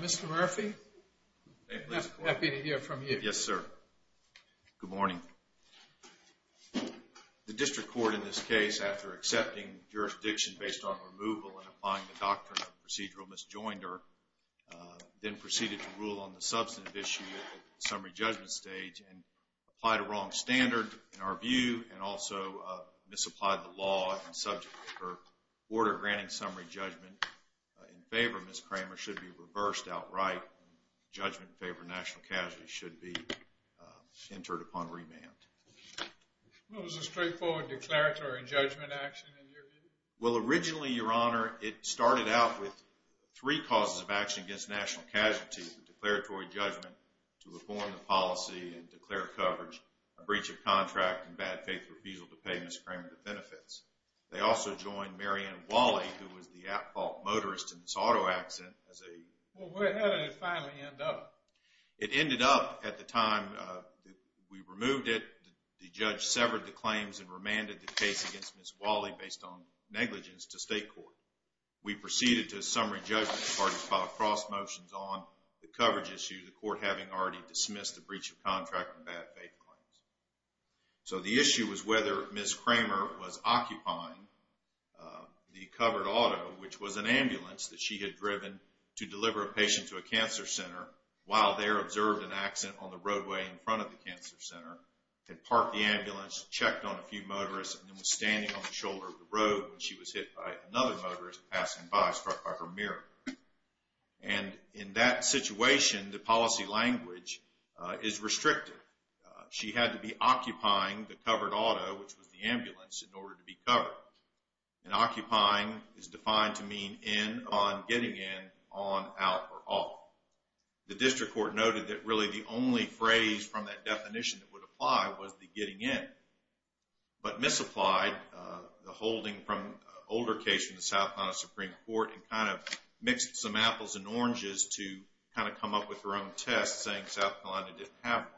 Mr. Murphy, happy to hear from you. Yes, sir. Good morning. The district court in this case, after accepting jurisdiction based on removal and applying the doctrine of procedural misjoinder, then proceeded to rule on the substantive issue at the summary judgment stage and applied a wrong standard in our view and also misapplied the law in subject to her order granting summary judgment. In favor, Ms. Cramer, should be reversed outright. Judgment in favor of national casualties should be entered upon remand. What was the straightforward declaratory judgment action in your view? Well, originally, Your Honor, it started out with three causes of action against national casualties. The declaratory judgment to reform the policy and declare coverage, a breach of contract, and bad faith refusal to pay Ms. Cramer the benefits. They also joined Mary Ann Wally, who was the at-fault motorist in this auto accident as a... Well, where did it finally end up? It ended up at the time that we removed it, the judge severed the claims and remanded the case against Ms. Wally based on negligence to state court. We proceeded to summary judgment and filed cross motions on the coverage issue, the court having already dismissed the breach of contract and bad faith claims. So the issue was whether Ms. Cramer was occupying the covered auto, which was an ambulance that she had driven to deliver a patient to a cancer center while there observed an accident on the roadway in front of the cancer center, had parked the ambulance, checked on a few motorists, and then was standing on the shoulder of the road when she was hit by another motorist passing by, struck by her mirror. And in that situation, the policy language is restrictive. She had to be occupying the covered auto, which was the ambulance, in order to be covered. And occupying is defined to mean in, on, getting in, on, out, or off. The district court noted that really the only phrase from that definition that would apply was the getting in. But misapplied, the holding from an older case from the South Carolina Supreme Court, and kind of mixed some apples and oranges to kind of come up with her own test, saying South Carolina didn't have one.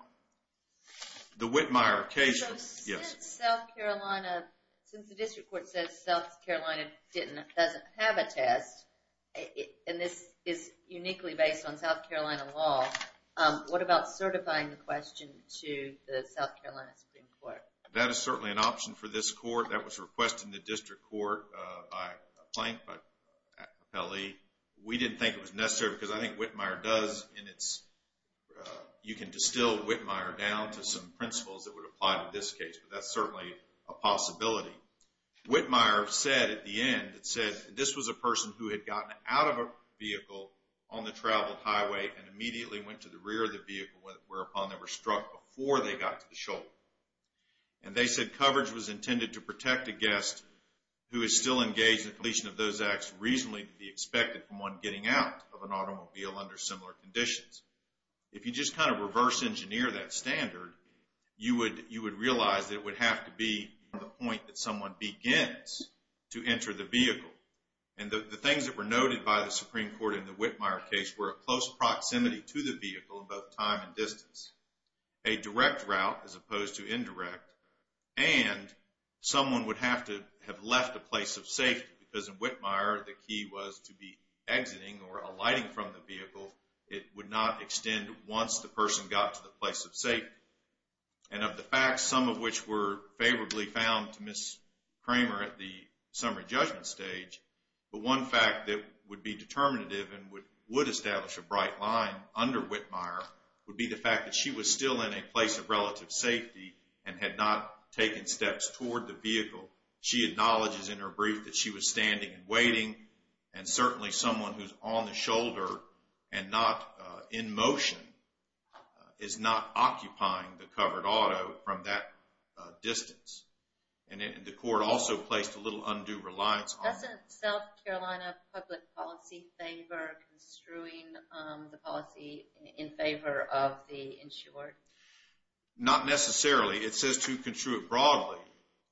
The Whitmire case, yes. So since South Carolina, since the district court says South Carolina didn't, doesn't have a test, and this is uniquely based on South Carolina law, what about certifying the question to the South Carolina Supreme Court? That is certainly an option for this court. That was requested in the district court by Plank, by Capelli. We didn't think it was necessary because I think Whitmire does in its, you can distill Whitmire down to some principles that would apply to this case, but that's certainly a possibility. Whitmire said at the end, it said this was a person who had gotten out of a vehicle on the traveled highway and immediately went to the rear of the shoulder. And they said coverage was intended to protect a guest who is still engaged in the completion of those acts reasonably to be expected from one getting out of an automobile under similar conditions. If you just kind of reverse engineer that standard, you would realize that it would have to be the point that someone begins to enter the vehicle. And the things that were noted by the Supreme Court in the Whitmire case were close proximity to the vehicle in both time and distance, a direct route as opposed to indirect, and someone would have to have left a place of safety because in Whitmire the key was to be exiting or alighting from the vehicle. It would not extend once the person got to the place of safety. And of the facts, some of which were favorably found to Ms. Kramer at the summary judgment stage, but one fact that would be determinative and would establish a bright line under Whitmire would be the fact that she was still in a place of relative safety and had not taken steps toward the vehicle. She acknowledges in her brief that she was standing and waiting, and certainly someone who's on the shoulder and not in motion is not occupying the covered auto from that distance. And the court also placed a little undue reliance on... Doesn't South Carolina public policy favor construing the policy in favor of the insured? Not necessarily. It says to construe it broadly,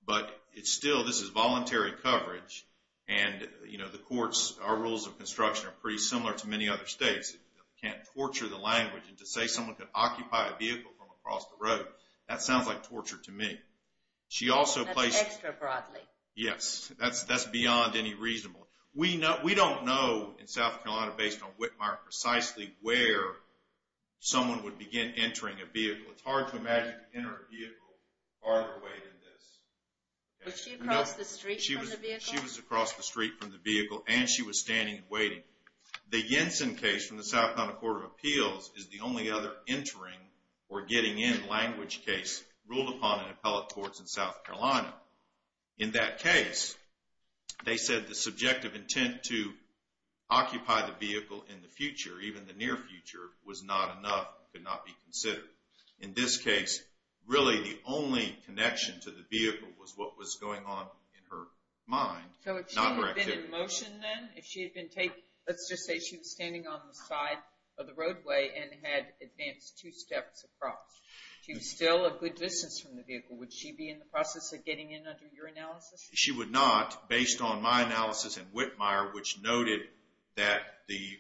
but it's still, this is voluntary coverage, and the courts, our rules of construction are pretty similar to many other states. You can't torture the language to say someone could occupy a vehicle from across the road. That sounds like torture to me. That's extra broadly. Yes, that's beyond any reasonable. We don't know in South Carolina based on Whitmire precisely where someone would begin entering a vehicle. It's hard to imagine entering a vehicle farther away than this. Was she across the street from the vehicle? She was across the street from the vehicle, and she was standing and waiting. The Jensen case from the South Carolina Court of Appeals is the only other entering or getting in language case ruled upon in appellate courts in South Carolina. In that case, they said the subjective intent to occupy the vehicle in the future, even the near future, was not enough, could not be considered. In this case, really the only connection to the vehicle was what was going on in her mind. So if she had been in motion then, if she had been, let's just say she was standing on the side of the roadway and had advanced two steps across, she was still a good distance from the vehicle. Would she be in the process of getting in under your analysis? She would not, based on my analysis in Whitmire, which noted that the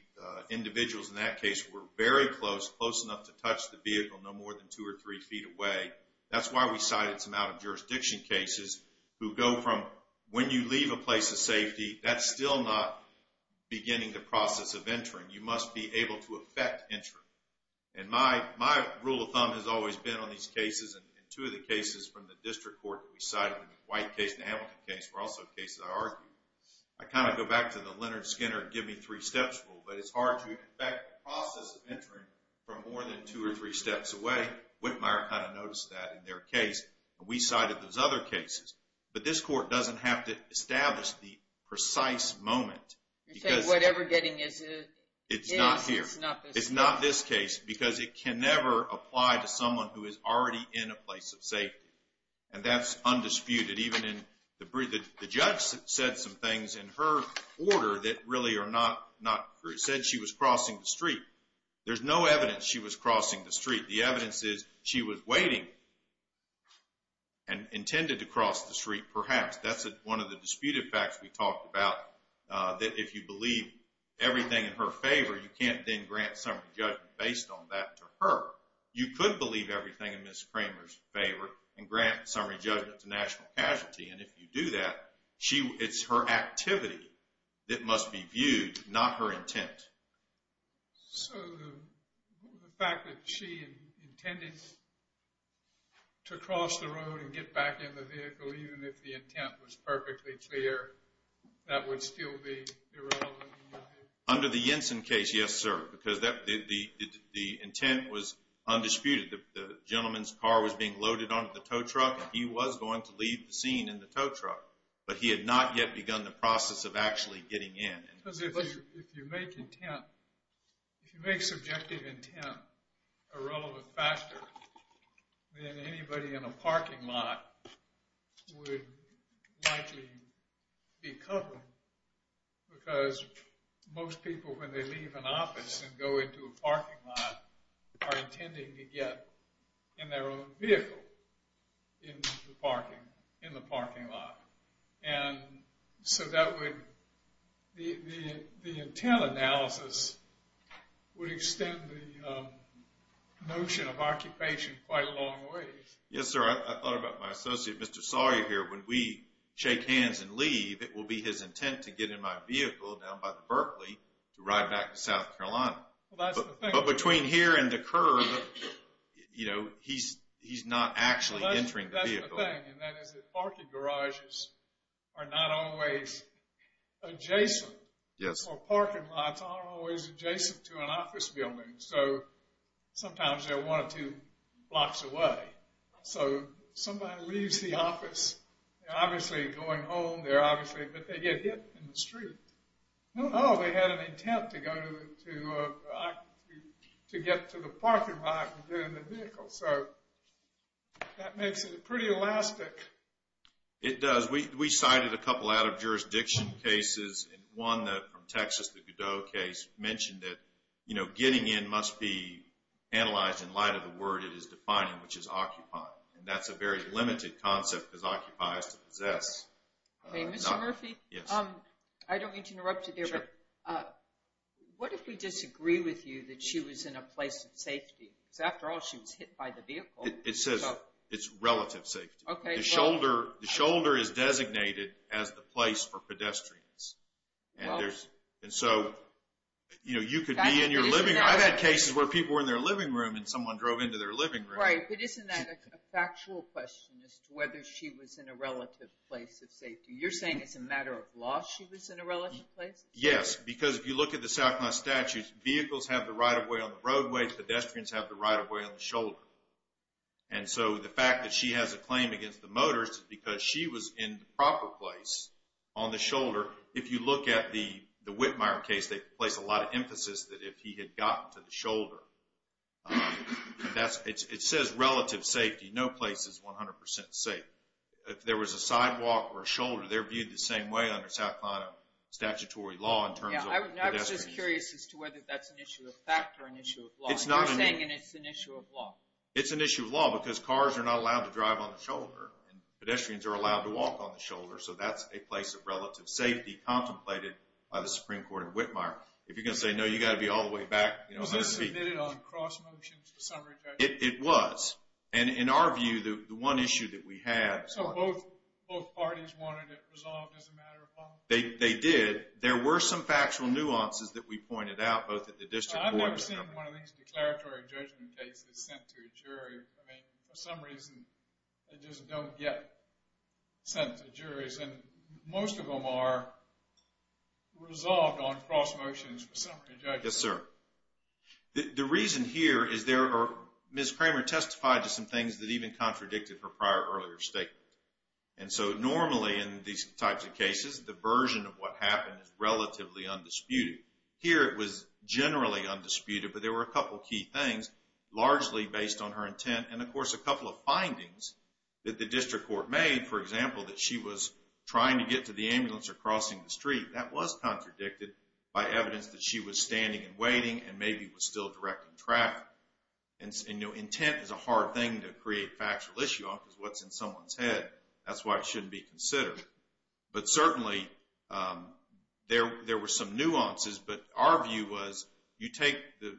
individuals in that case were very close, close enough to touch the vehicle, no more than two or three feet away. That's why we cited some out-of-jurisdiction cases who go from when you leave a place of you must be able to affect entry. And my rule of thumb has always been on these cases, and two of the cases from the district court that we cited, the White case and the Hamilton case, were also cases I argued. I kind of go back to the Leonard Skinner give me three steps rule, but it's hard to affect the process of entering from more than two or three steps away. Whitmire kind of noticed that in their case, and we cited those other cases. But this court doesn't have to establish the precise moment. You said whatever getting is, it's not this case. It's not this case, because it can never apply to someone who is already in a place of safety. And that's undisputed, even in the brief, the judge said some things in her order that really are not, said she was crossing the street. There's no evidence she was crossing the street. The evidence is she was waiting and intended to cross the street perhaps. That's one of the disputed facts we talked about, that if you believe everything in her favor, you can't then grant summary judgment based on that to her. You could believe everything in Ms. Kramer's favor and grant summary judgment to national casualty, and if you do that, it's her activity that must be viewed, not her intent. So the fact that she intended to cross the road and get back in the vehicle, even if the intent was perfectly clear, that would still be irrelevant? Under the Jensen case, yes, sir, because the intent was undisputed. The gentleman's car was being loaded onto the tow truck, and he was going to leave the scene in the tow truck. But he had not yet begun the process of actually getting in. Because if you make intent, if you make subjective intent a relevant factor, then anybody in a parking lot would likely be covered because most people, when they leave an office and go into a parking lot, are intending to get in their own vehicle in the parking lot. And so the intent analysis would extend the notion of occupation quite a long ways. Yes, sir. I thought about my associate Mr. Sawyer here. When we shake hands and leave, it will be his intent to get in my vehicle down by the Berkeley to ride back to South Carolina. But between here and the curb, he's not actually entering the vehicle. One thing, and that is that parking garages are not always adjacent, or parking lots aren't always adjacent to an office building. So sometimes they're one or two blocks away. So somebody leaves the office, obviously going home, but they get hit in the street. No, no, they had an intent to get to the parking lot and get in the vehicle. So that makes it pretty elastic. It does. We cited a couple out-of-jurisdiction cases, and one from Texas, the Godot case, mentioned that getting in must be analyzed in light of the word it is defining, which is occupying. And that's a very limited concept, because occupy is to possess. Okay, Mr. Murphy? Yes. I don't mean to interrupt you there, but what if we disagree with you that she was in a place of safety? Because after all, she was hit by the vehicle. It says it's relative safety. Okay, well... The shoulder is designated as the place for pedestrians. Well... And so, you know, you could be in your living room. I've had cases where people were in their living room, and someone drove into their living room. Right, but isn't that a factual question as to whether she was in a relative place of safety? You're saying it's a matter of law she was in a relative place? Yes, because if you look at the Southwest Statute, vehicles have the right-of-way on And so, the fact that she has a claim against the motors is because she was in the proper place on the shoulder. If you look at the Whitmire case, they place a lot of emphasis that if he had gotten to the shoulder. It says relative safety. No place is 100% safe. If there was a sidewalk or a shoulder, they're viewed the same way under South Carolina statutory law in terms of pedestrians. Yeah, I was just curious as to whether that's an issue of fact or an issue of law. It's not an issue. You're saying it's an issue of law. It's an issue of law because cars are not allowed to drive on the shoulder. Pedestrians are allowed to walk on the shoulder, so that's a place of relative safety contemplated by the Supreme Court in Whitmire. If you're going to say no, you've got to be all the way back. Was this submitted on cross-motion to the summary judge? It was. And in our view, the one issue that we had... So, both parties wanted it resolved as a matter of law? They did. There were some factual nuances that we pointed out, both at the district court... I've seen one of these declaratory judgment cases sent to a jury. I mean, for some reason, they just don't get sent to juries. And most of them are resolved on cross-motions for summary judgment. Yes, sir. The reason here is there are... Ms. Kramer testified to some things that even contradicted her prior earlier statement. And so, normally, in these types of cases, the version of what happened is relatively undisputed. Here, it was generally undisputed, but there were a couple of key things, largely based on her intent. And, of course, a couple of findings that the district court made, for example, that she was trying to get to the ambulance or crossing the street, that was contradicted by evidence that she was standing and waiting and maybe was still directing traffic. And intent is a hard thing to create factual issue on because what's in someone's head, that's why it shouldn't be considered. But certainly, there were some nuances. But our view was you take the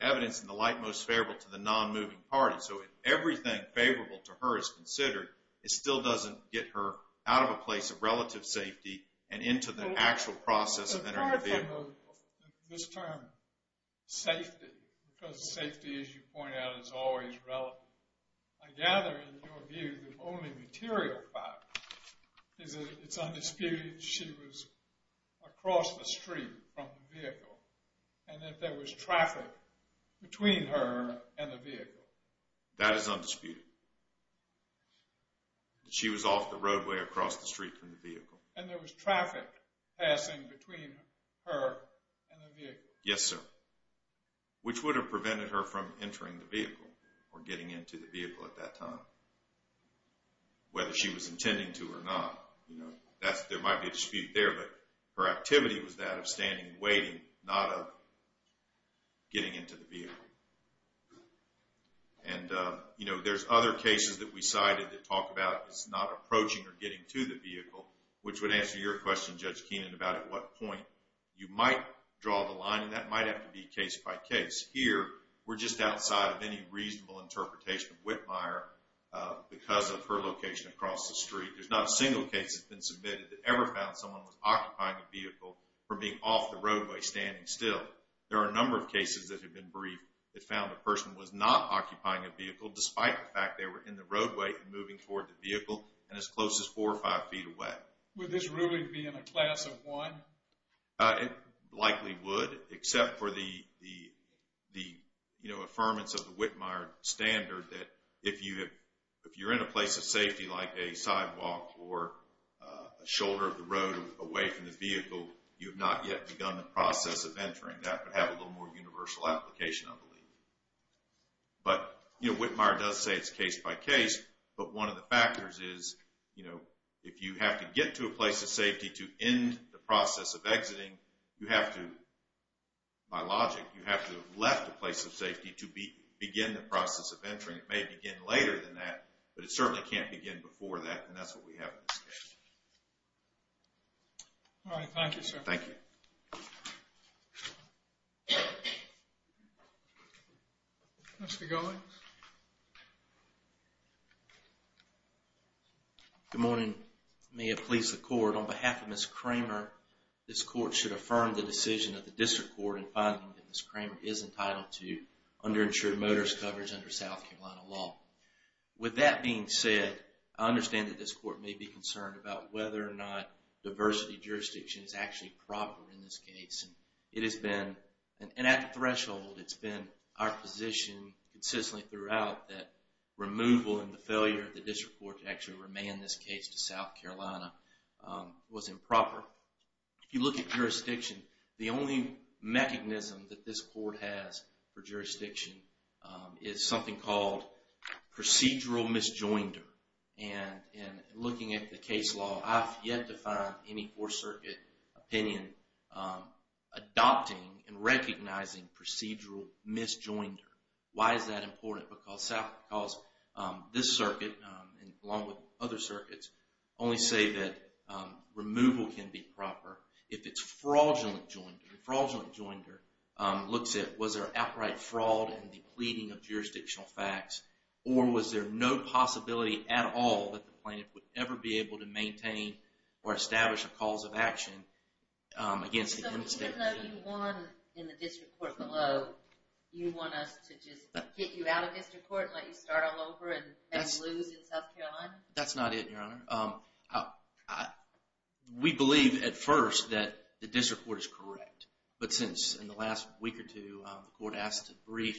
evidence in the light most favorable to the non-moving party. So, if everything favorable to her is considered, it still doesn't get her out of a place of relative safety and into the actual process of entering a vehicle. Apart from this term, safety, because safety, as you point out, is always relative. I gather, in your view, the only material fact is that it's undisputed that she was across the street from the vehicle and that there was traffic between her and the vehicle. That is undisputed. She was off the roadway across the street from the vehicle. And there was traffic passing between her and the vehicle. Yes, sir. Which would have prevented her from entering the vehicle or getting into the vehicle at that time, whether she was intending to or not? There might be a dispute there, but her activity was that of standing and waiting, not of getting into the vehicle. And there's other cases that we cited that talk about not approaching or getting to the vehicle, which would answer your question, Judge Keenan, about at what point. You might draw the line, and that might have to be case by case. Here, we're just outside of any reasonable interpretation of Whitmire because of her location across the street. There's not a single case that's been submitted that ever found someone was occupying a vehicle from being off the roadway standing still. There are a number of cases that have been briefed that found a person was not occupying a vehicle despite the fact they were in the roadway and moving toward the vehicle and as close as four or five feet away. Would this really be in a class of one? It likely would, except for the, you know, affirmance of the Whitmire standard that if you're in a place of safety like a sidewalk or a shoulder of the road away from the vehicle, you have not yet begun the process of entering. That would have a little more universal application, I believe. But, you know, Whitmire does say it's case by case, but one of the factors is, you know, if you have to get to a place of safety to end the process of exiting, you have to, by logic, you have to have left a place of safety to begin the process of entering. It may begin later than that, but it certainly can't begin before that, and that's what we have in this case. All right. Thank you, sir. Thank you. Thank you. Mr. Goins. Good morning. May it please the court, on behalf of Ms. Kramer, this court should affirm the decision of the district court in finding that Ms. Kramer is entitled to underinsured motorist coverage under South Carolina law. With that being said, I understand that this court may be concerned about whether or not diversity jurisdiction is actually proper in this case. It has been. And at the threshold, it's been our position consistently throughout that removal and the failure of the district court to actually remand this case to South Carolina was improper. If you look at jurisdiction, the only mechanism that this court has for jurisdiction is something called procedural misjoinder. And in looking at the case law, I've yet to find any fourth circuit opinion adopting and recognizing procedural misjoinder. Why is that important? Because this circuit, along with other circuits, only say that removal can be proper if it's fraudulent joinder. Fraudulent joinder looks at was there outright fraud and depleting of jurisdictional facts, or was there no possibility at all that the plaintiff would ever be able to maintain or establish a cause of action against the end state? So even though you won in the district court below, you want us to just get you out of district court and let you start all over and lose in South Carolina? That's not it, Your Honor. We believe at first that the district court is correct. But since in the last week or two, the court asked to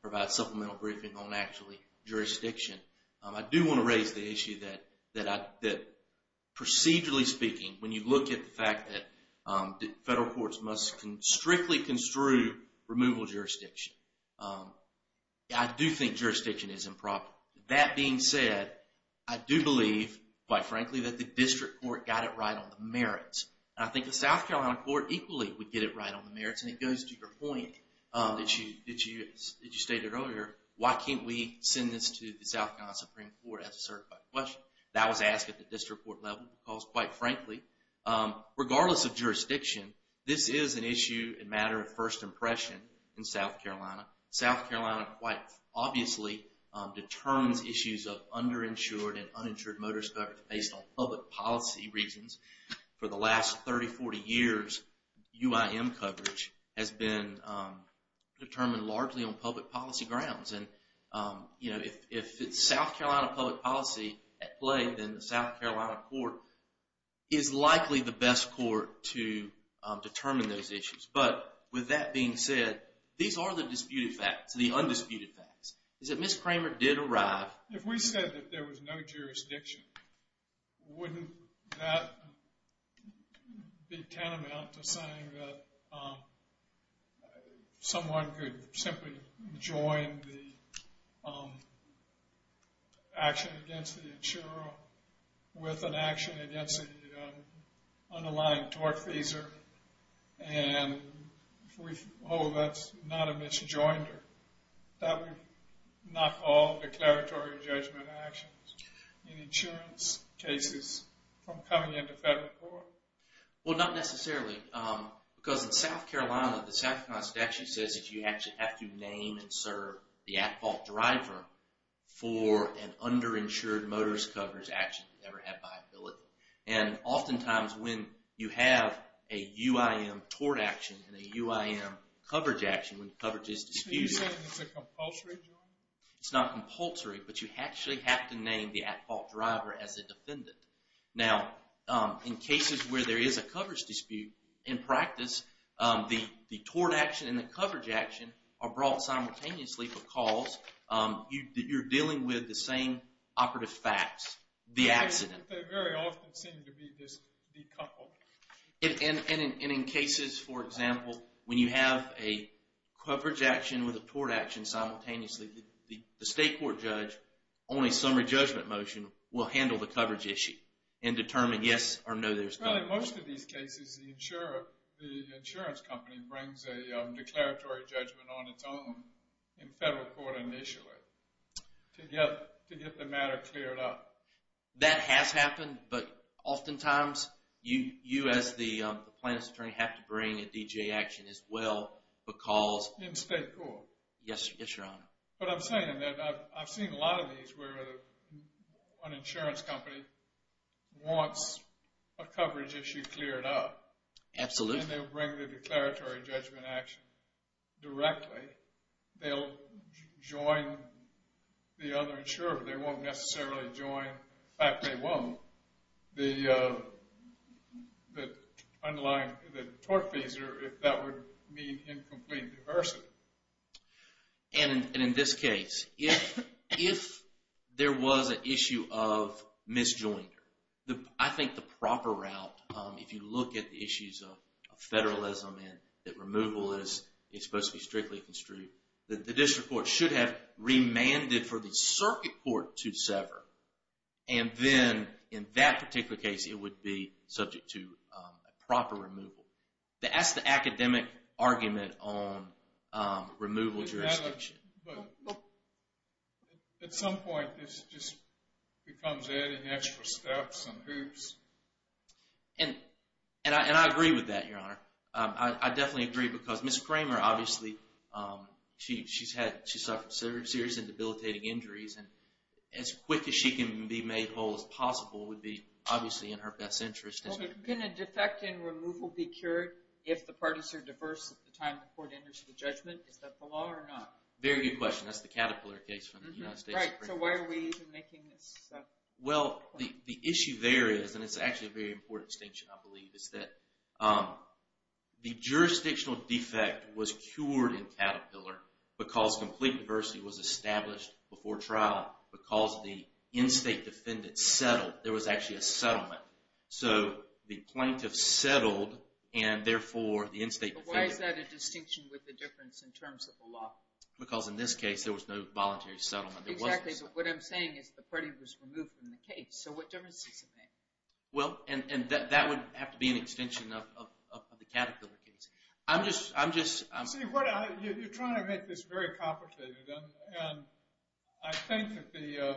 provide supplemental briefing on actually jurisdiction, I do want to raise the issue that procedurally speaking, when you look at the fact that federal courts must strictly construe removal jurisdiction, I do think jurisdiction is improper. That being said, I do believe, quite frankly, that the district court got it right on the merits. And I think the South Carolina court equally would get it right on the merits. And it goes to your point that you stated earlier, why can't we send this to the South Carolina Supreme Court as a certified question? That was asked at the district court level because, quite frankly, regardless of jurisdiction, this is an issue and matter of first impression in South Carolina. South Carolina quite obviously determines issues of underinsured and uninsured motorist coverage based on public policy reasons. For the last 30, 40 years, UIM coverage has been determined largely on public policy grounds. And if it's South Carolina public policy at play, then the South Carolina court is likely the best court to determine those issues. But with that being said, these are the disputed facts, the undisputed facts. Is that Ms. Kramer did arrive... If we said that there was no jurisdiction, wouldn't that be tantamount to saying that someone could simply join the action against the insurer with an action against the underlying tortfeasor? And if we... Oh, that's not a misjoinder. That would knock all declaratory judgment actions. And insurance cases from coming into federal court? Well, not necessarily. Because in South Carolina, the South Carolina statute says that you actually have to name and serve the at-fault driver for an underinsured motorist coverage action that never had viability. And oftentimes when you have a UIM tort action and a UIM coverage action, when coverage is disputed... Are you saying it's a compulsory joint? It's not compulsory, but you actually have to name the at-fault driver as a defendant. Now, in cases where there is a coverage dispute, in practice, the tort action and the coverage action are brought simultaneously because you're dealing with the same operative facts, the accident. They very often seem to be decoupled. And in cases, for example, when you have a coverage action and with a tort action simultaneously, the state court judge, on a summary judgment motion, will handle the coverage issue and determine yes or no there's coverage. Well, in most of these cases, the insurance company brings a declaratory judgment on its own in federal court initially to get the matter cleared up. That has happened, but oftentimes you, as the plaintiff's attorney, have to bring a DGA action as well because... In state court. Yes, Your Honor. But I'm saying that I've seen a lot of these where an insurance company wants a coverage issue cleared up. Absolutely. And they'll bring the declaratory judgment action directly. They'll join the other insurer, but they won't necessarily join... In fact, they won't. The underlying... If that would mean incomplete diversity. And in this case, if there was an issue of misjoinder, I think the proper route, if you look at the issues of federalism and that removal is supposed to be strictly construed, the district court should have remanded for the circuit court to sever. And then, in that particular case, it would be subject to a proper removal. That's the academic argument on removal jurisdiction. But at some point, this just becomes adding extra steps and hoops. And I agree with that, Your Honor. I definitely agree because Ms. Kramer, obviously, she's suffered serious and debilitating injuries, and as quick as she can be made whole as possible would be obviously in her best interest. Can a defect in removal be cured if the parties are diverse at the time the court enters the judgment? Is that the law or not? Very good question. That's the Caterpillar case from the United States Supreme Court. So why are we even making this point? Well, the issue there is, and it's actually a very important distinction, I believe, is that the jurisdictional defect was cured in Caterpillar because complete diversity was established before trial. Because the in-state defendants settled, there was actually a settlement. So the plaintiff settled, and therefore the in-state defendant... But why is that a distinction with the difference in terms of the law? Because in this case, there was no voluntary settlement. Exactly, but what I'm saying is the party was removed from the case. So what difference does it make? Well, and that would have to be an extension of the Caterpillar case. I'm just... See, you're trying to make this very complicated, and I think that the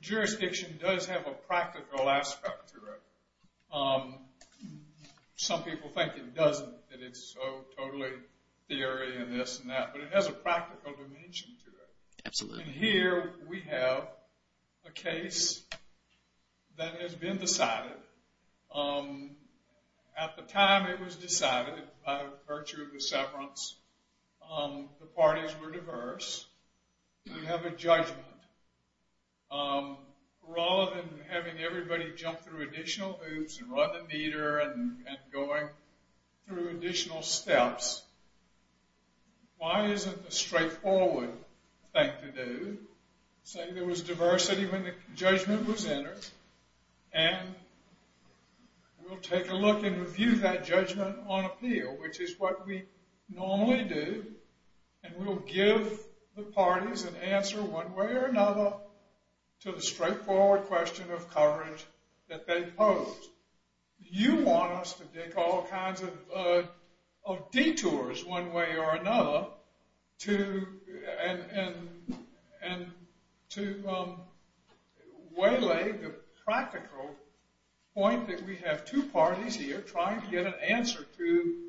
jurisdiction does have a practical aspect to it. Some people think it doesn't, that it's so totally theory and this and that, but it has a practical dimension to it. Absolutely. And here we have a case that has been decided. At the time it was decided, by virtue of the severance, the parties were diverse. You have a judgment. Rather than having everybody jump through additional hoops and run the meter and going through additional steps, why isn't a straightforward thing to do? Say there was diversity when the judgment was entered, and we'll take a look and review that judgment on appeal, which is what we normally do, and we'll give the parties an answer one way or another to the straightforward question of coverage that they pose. You want us to dig all kinds of detours one way or another to waylay the practical point that we have two parties here trying to get an answer to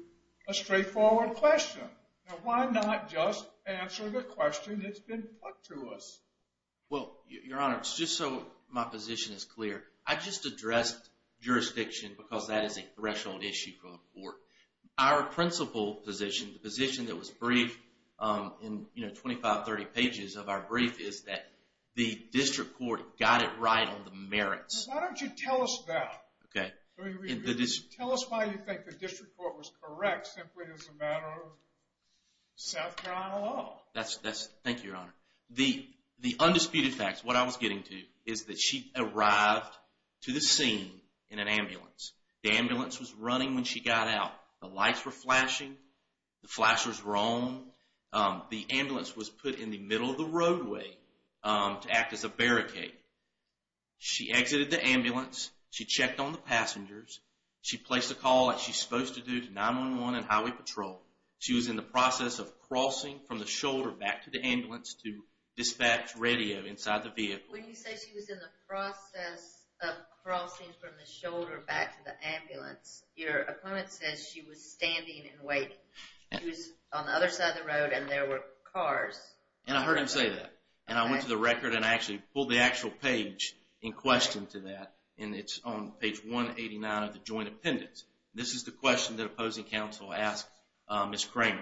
a straightforward question. Now why not just answer the question that's been put to us? Well, Your Honor, just so my position is clear, I just addressed jurisdiction because that is a threshold issue for the court. Our principal position, the position that was briefed in 25, 30 pages of our brief, is that the district court got it right on the merits. Why don't you tell us that? Tell us why you think the district court was correct simply as a matter of South Carolina law. Thank you, Your Honor. The undisputed fact, what I was getting to, is that she arrived to the scene in an ambulance. The ambulance was running when she got out. The lights were flashing. The flashers were on. The ambulance was put in the middle of the roadway to act as a barricade. She exited the ambulance. She checked on the passengers. She placed a call like she's supposed to do to 911 and Highway Patrol. She was in the process of crossing from the shoulder back to the ambulance to dispatch radio inside the vehicle. When you say she was in the process of crossing from the shoulder back to the ambulance, your opponent says she was standing and waiting. She was on the other side of the road and there were cars. And I heard him say that. And I went to the record and I actually pulled the actual page in question to that, and it's on page 189 of the joint appendix. This is the question that opposing counsel asked Ms. Kramer.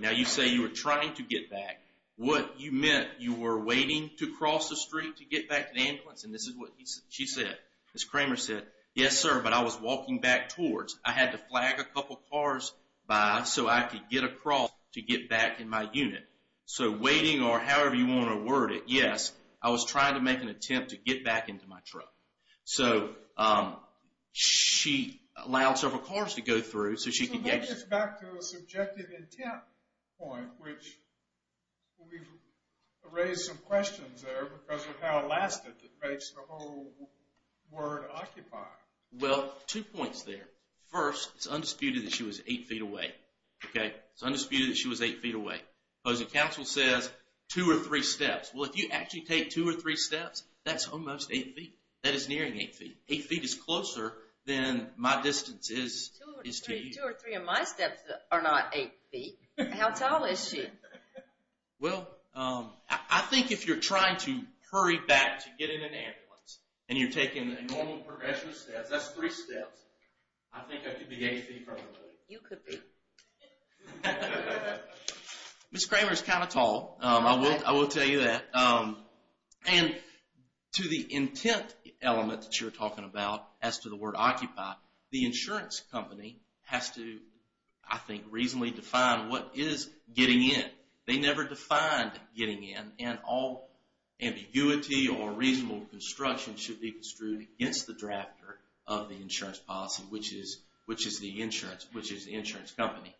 Now you say you were trying to get back. What you meant, you were waiting to cross the street to get back to the ambulance, and this is what she said. Ms. Kramer said, yes, sir, but I was walking back towards. I had to flag a couple cars by so I could get across to get back in my unit. So waiting or however you want to word it, yes, I was trying to make an attempt to get back into my truck. So she allowed several cars to go through so she could get... So that gets back to a subjective intent point, which we've raised some questions there because of how elastic it makes the whole word occupy. Well, two points there. First, it's undisputed that she was 8 feet away, okay? It's undisputed that she was 8 feet away. Opposing counsel says 2 or 3 steps. Well, if you actually take 2 or 3 steps, that's almost 8 feet. That is nearing 8 feet. 8 feet is closer than my distance is to you. 2 or 3 of my steps are not 8 feet. How tall is she? Well, I think if you're trying to hurry back to get in an ambulance and you're taking the normal progression of steps, that's 3 steps. I think I could be 8 feet from the moon. You could be. Ms. Kramer's kind of tall, I will tell you that. And to the intent element that you're talking about as to the word occupy, the insurance company has to, I think, reasonably define what is getting in. They never defined getting in, and all ambiguity or reasonable construction should be construed against the drafter of the insurance policy, which is the insurance company.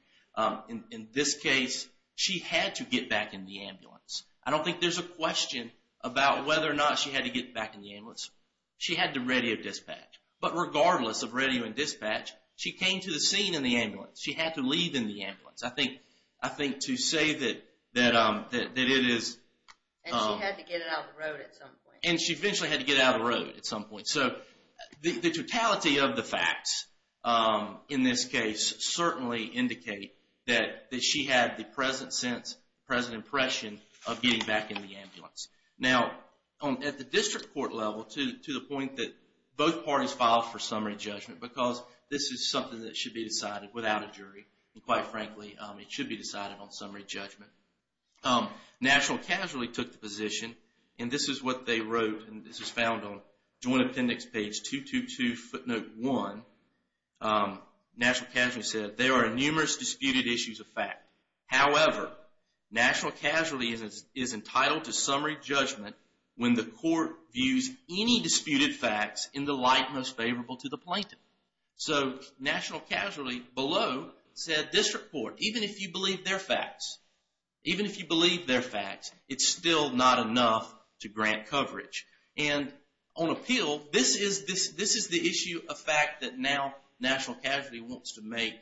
In this case, she had to get back in the ambulance. I don't think there's a question about whether or not she had to get back in the ambulance. She had to radio dispatch. But regardless of radio and dispatch, she came to the scene in the ambulance. She had to leave in the ambulance. I think to say that it is... And she had to get it out of the road at some point. And she eventually had to get it out of the road at some point. So the totality of the facts in this case certainly indicate that she had the present sense, the present impression of getting back in the ambulance. Now, at the district court level, to the point that both parties filed for summary judgment, because this is something that should be decided without a jury, and quite frankly, it should be decided on summary judgment. National casually took the position, and this is what they wrote, and this is found on Joint Appendix page 222 footnote 1. National casually said, there are numerous disputed issues of fact. However, national casually is entitled to summary judgment when the court views any disputed facts in the light most favorable to the plaintiff. So national casually below said, district court, even if you believe their facts, even if you believe their facts, it's still not enough to grant coverage. And on appeal, this is the issue of fact that now national casually wants to make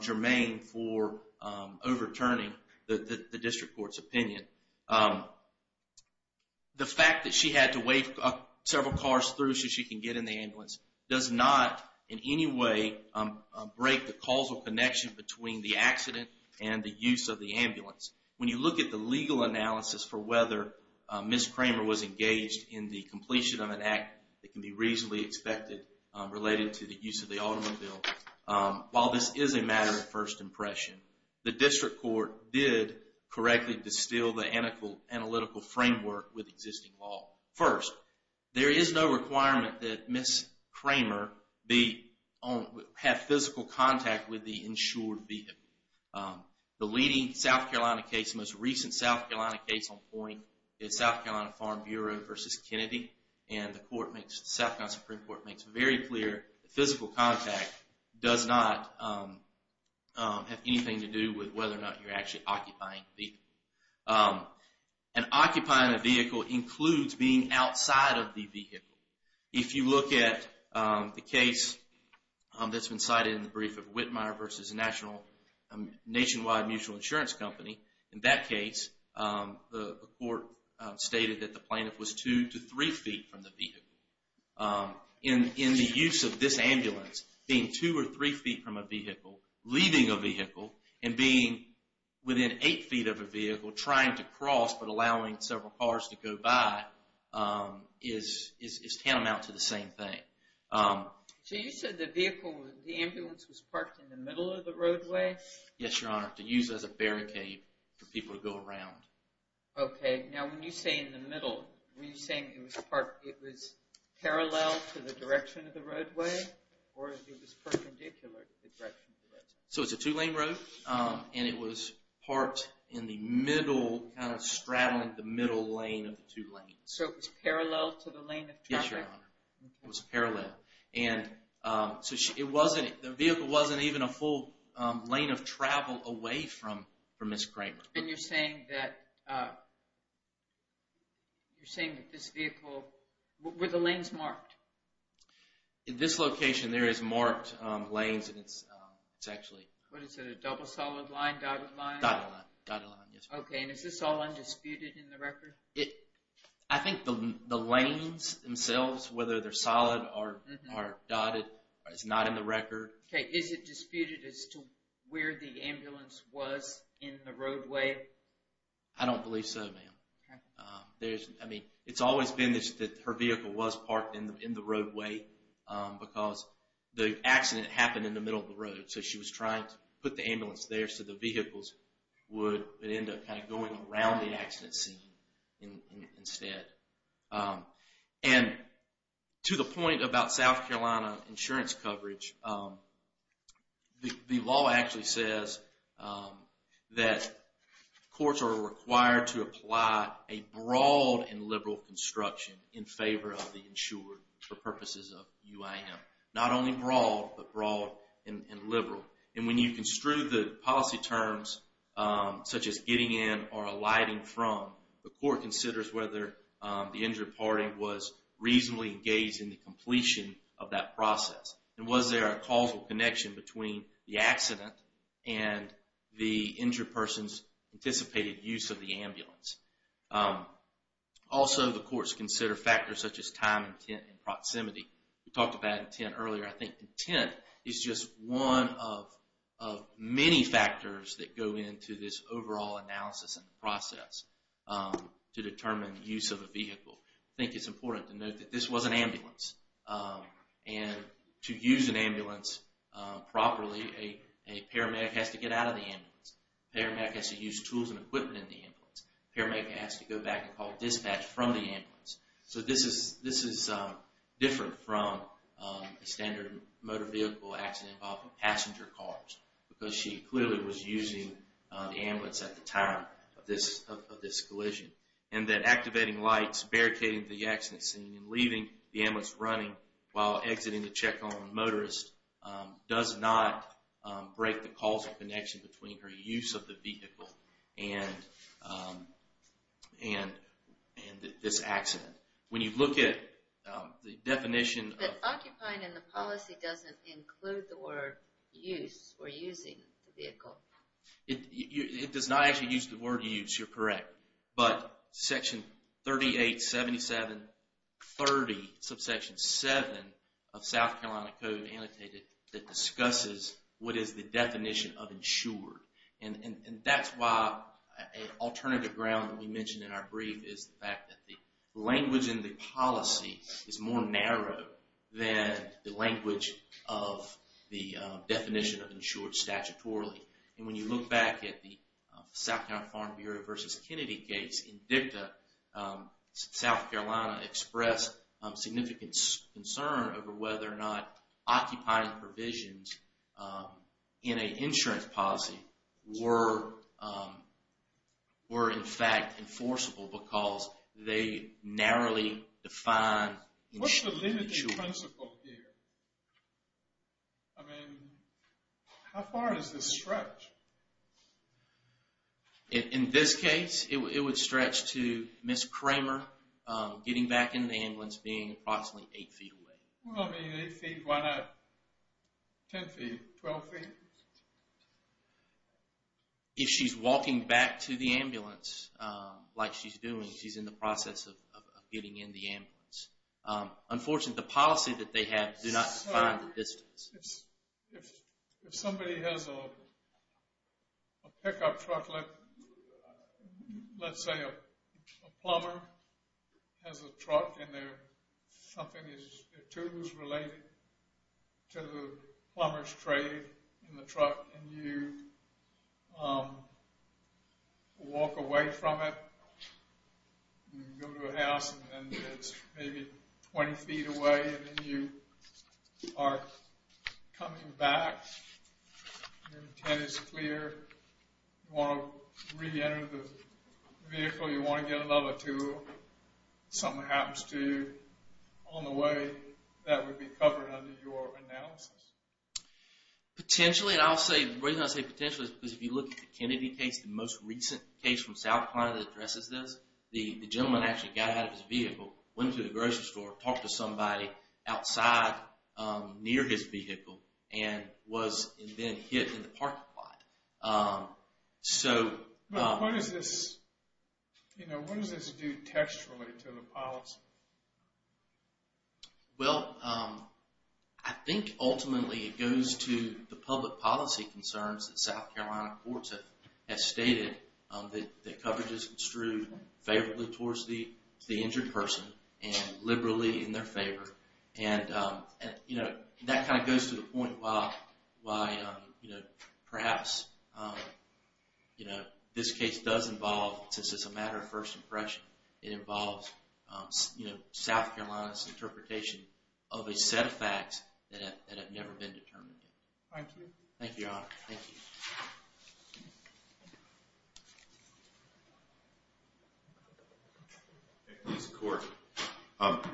germane for overturning the district court's opinion. The fact that she had to wave several cars through so she can get in the ambulance does not in any way break the causal connection between the accident and the use of the ambulance. When you look at the legal analysis for whether Ms. Kramer was engaged in the completion of an act that can be reasonably expected related to the use of the automobile, while this is a matter of first impression, the district court did correctly distill the analytical framework with existing law. First, there is no requirement that Ms. Kramer have physical contact with the insured vehicle. The leading South Carolina case, the most recent South Carolina case on point, is South Carolina Farm Bureau versus Kennedy. And the South Carolina Supreme Court makes it very clear that physical contact does not have anything to do with whether or not you're actually occupying the vehicle. And occupying the vehicle includes being outside of the vehicle. If you look at the case that's been cited in the brief of Whitmire versus Nationwide Mutual Insurance Company, in that case, the court stated that the plaintiff was two to three feet from the vehicle. In the use of this ambulance, being two or three feet from a vehicle, leaving a vehicle, and being within eight feet of a vehicle, trying to cross but allowing several cars to go by, is tantamount to the same thing. So you said the ambulance was parked in the middle of the roadway? Yes, Your Honor, to use as a barricade for people to go around. Okay, now when you say in the middle, were you saying it was parallel to the direction of the roadway or it was perpendicular to the direction of the roadway? So it's a two-lane road, and it was parked in the middle, kind of straddling the middle lane of the two lanes. So it was parallel to the lane of traffic? Yes, Your Honor, it was parallel. And so the vehicle wasn't even a full lane of travel away from Ms. Kramer. And you're saying that this vehicle, were the lanes marked? In this location, there is marked lanes, and it's actually... What is it, a double solid line, dotted line? Dotted line, dotted line, yes. Okay, and is this all undisputed in the record? I think the lanes themselves, whether they're solid or dotted, it's not in the record. Okay, is it disputed as to where the ambulance was in the roadway? I don't believe so, ma'am. I mean, it's always been that her vehicle was parked in the roadway because the accident happened in the middle of the road, so she was trying to put the ambulance there so the vehicles would end up kind of going around the accident scene instead. And to the point about South Carolina insurance coverage, the law actually says that courts are required to apply a broad and liberal construction in favor of the insured for purposes of UIM. Not only broad, but broad and liberal. And when you construe the policy terms, such as getting in or alighting from, the court considers whether the injured party was reasonably engaged in the completion of that process. And was there a causal connection between the accident and the injured person's anticipated use of the ambulance? Also, the courts consider factors such as time, intent, and proximity. We talked about intent earlier. I think intent is just one of many factors that go into this overall analysis and process to determine the use of a vehicle. I think it's important to note that this was an ambulance. And to use an ambulance properly, a paramedic has to get out of the ambulance. A paramedic has to use tools and equipment in the ambulance. A paramedic has to go back and call dispatch from the ambulance. So this is different from a standard motor vehicle accident involving passenger cars because she clearly was using the ambulance at the time of this collision. And that activating lights, barricading the accident scene, and leaving the ambulance running while exiting to check on the motorist does not break the causal connection between her use of the vehicle and this accident. When you look at the definition of... It does not actually use the word use, you're correct. But Section 387730, subsection 7, of South Carolina Code annotated that discusses what is the definition of insured. And that's why an alternative ground that we mentioned in our brief is the fact that the language in the policy is more narrow than the language of the definition of insured. And when you look back at the South Carolina Farm Bureau v. Kennedy case in DICTA, South Carolina expressed significant concern over whether or not occupying provisions in an insurance policy were in fact enforceable because they narrowly define insured. What's the limiting principle here? I mean, how far does this stretch? In this case, it would stretch to Ms. Kramer getting back into the ambulance being approximately 8 feet away. Well, I mean, 8 feet, why not 10 feet, 12 feet? If she's walking back to the ambulance like she's doing, she's in the process of getting in the ambulance. Unfortunately, the policy that they have does not define the distance. If somebody has a pickup truck, let's say a plumber has a truck and something is related to the plumber's trade in the truck and you walk away from it, you go to a house and it's maybe 20 feet away and then you are coming back, your intent is clear, you want to re-enter the vehicle, you want to get another tool, something happens to you on the way, that would be covered under your analysis. Potentially, and the reason I say potentially is because if you look at the Kennedy case, the most recent case from South Carolina that addresses this, the gentleman actually got out of his vehicle, went to the grocery store, talked to somebody outside near his vehicle and was then hit in the parking lot. So... But what does this do textually to the policy? Well, I think ultimately it goes to the public policy concerns that South Carolina courts have stated that coverage is construed favorably towards the injured person and liberally in their favor. And that kind of goes to the point why perhaps this case does involve, since it's a matter of first impression, it involves South Carolina's interpretation of a set of facts that have never been determined. Thank you. Thank you, Your Honor. Thank you. Thank you, Mr. Court.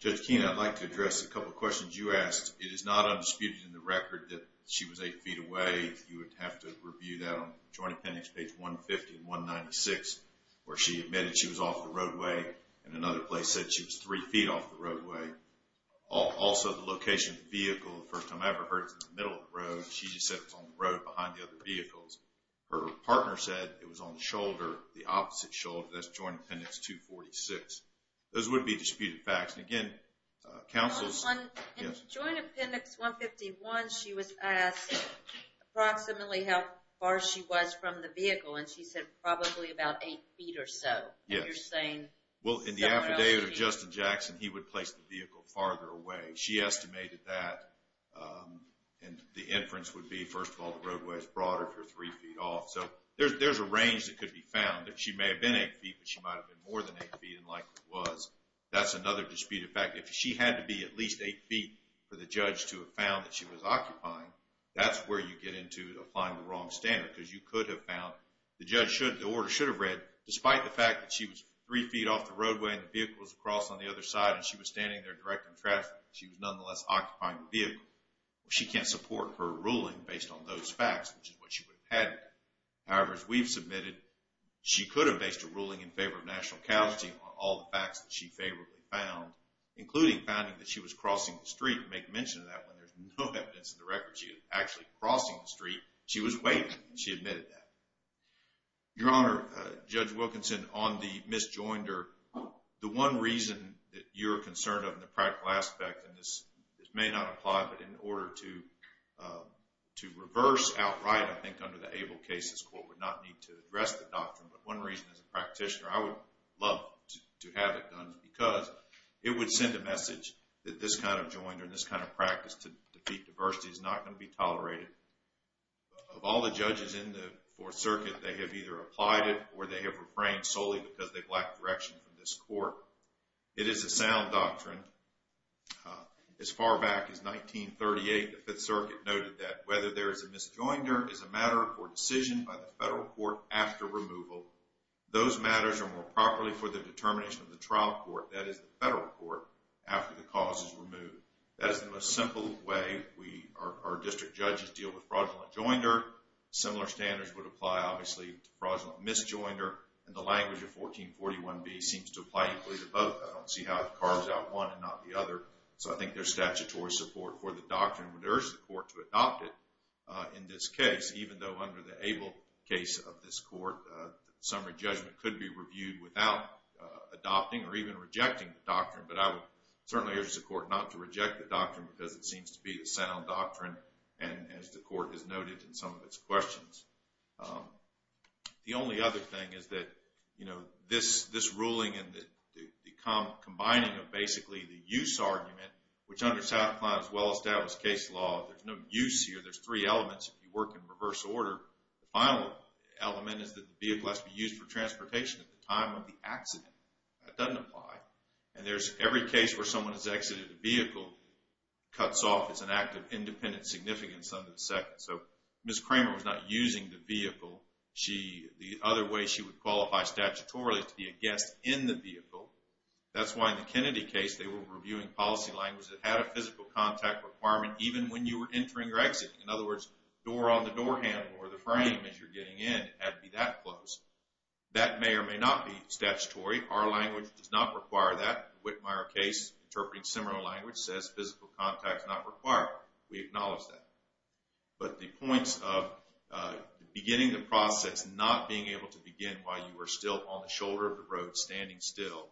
Judge Keene, I'd like to address a couple of questions you asked. It is not undisputed in the record that she was eight feet away. You would have to review that on Joint Appendix page 150 and 196 where she admitted she was off the roadway and another place said she was three feet off the roadway. Also the location of the vehicle, the first time I ever heard it was in the middle of the road. She said it was on the road behind the other vehicles. Her partner said it was on the shoulder, the opposite shoulder. That's Joint Appendix 246. Those would be disputed facts. And again, counsels... In Joint Appendix 151 she was asked approximately how far she was from the vehicle and she said probably about eight feet or so. And you're saying... Well, in the affidavit of Justin Jackson, he would place the vehicle farther away. She estimated that. And the inference would be, first of all, the roadway is broader if you're three feet off. So there's a range that could be found. She may have been eight feet, but she might have been more than eight feet and likely was. That's another disputed fact. If she had to be at least eight feet for the judge to have found that she was occupying, that's where you get into applying the wrong standard because you could have found... The order should have read, despite the fact that she was three feet off the roadway and the vehicle was across on the other side and she was standing there directing traffic, she was nonetheless occupying the vehicle. She can't support her ruling based on those facts, which is what she would have had. However, as we've submitted, she could have based her ruling in favor of national casualty on all the facts that she favorably found, including finding that she was crossing the street and make mention of that when there's no evidence in the record she was actually crossing the street. She was waiting and she admitted that. Your Honor, Judge Wilkinson, on the misjoinder, the one reason that you're concerned of in the practical aspect, and this may not apply, but in order to reverse outright, I think under the ABLE cases court would not need to address the doctrine, but one reason as a practitioner, I would love to have it done because it would send a message that this kind of joinder and this kind of practice to defeat diversity is not going to be tolerated. Of all the judges in the Fourth Circuit, they have either applied it or they have refrained solely because they've lacked direction from this court. It is a sound doctrine. As far back as 1938, the Fifth Circuit noted that whether there is a misjoinder is a matter or decision by the federal court after removal. Those matters are more properly for the determination of the trial court, that is, the federal court, after the cause is removed. That is the most simple way our district judges deal with fraudulent joinder. Similar standards would apply, obviously, to fraudulent misjoinder and the language of 1441B seems to apply equally to both. I don't see how it carves out one and not the other, so I think there's statutory support for the doctrine. I would urge the court to adopt it in this case, even though under the ABLE case of this court, summary judgment could be reviewed without adopting or even rejecting the doctrine, but I would certainly urge the court not to reject the doctrine because it seems to be a sound doctrine and, as the court has noted in some of its questions. The only other thing is that this ruling and the combining of basically the use argument, which under South Clive's well-established case law, there's no use here. There's three elements. If you work in reverse order, the final element is that the vehicle has to be used for transportation at the time of the accident. That doesn't apply. And there's every case where someone has exited a vehicle cuts off as an act of independent significance under the second. So Ms. Kramer was not using the vehicle. The other way she would qualify statutorily is to be a guest in the vehicle. That's why in the Kennedy case, they were reviewing policy language that had a physical contact requirement even when you were entering or exiting. In other words, door on the door handle or the frame as you're getting in had to be that close. That may or may not be statutory. Our language does not require that. The Whitmire case, interpreting similar language, says physical contact is not required. We acknowledge that. But the points of beginning the process, not being able to begin while you were still on the shoulder of the road, standing still,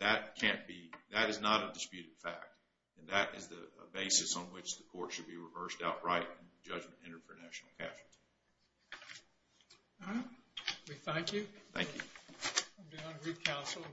that can't be. That is not a disputed fact. And that is the basis on which the court should be reversed outright in the judgment entered for national casualties. We thank you. Thank you.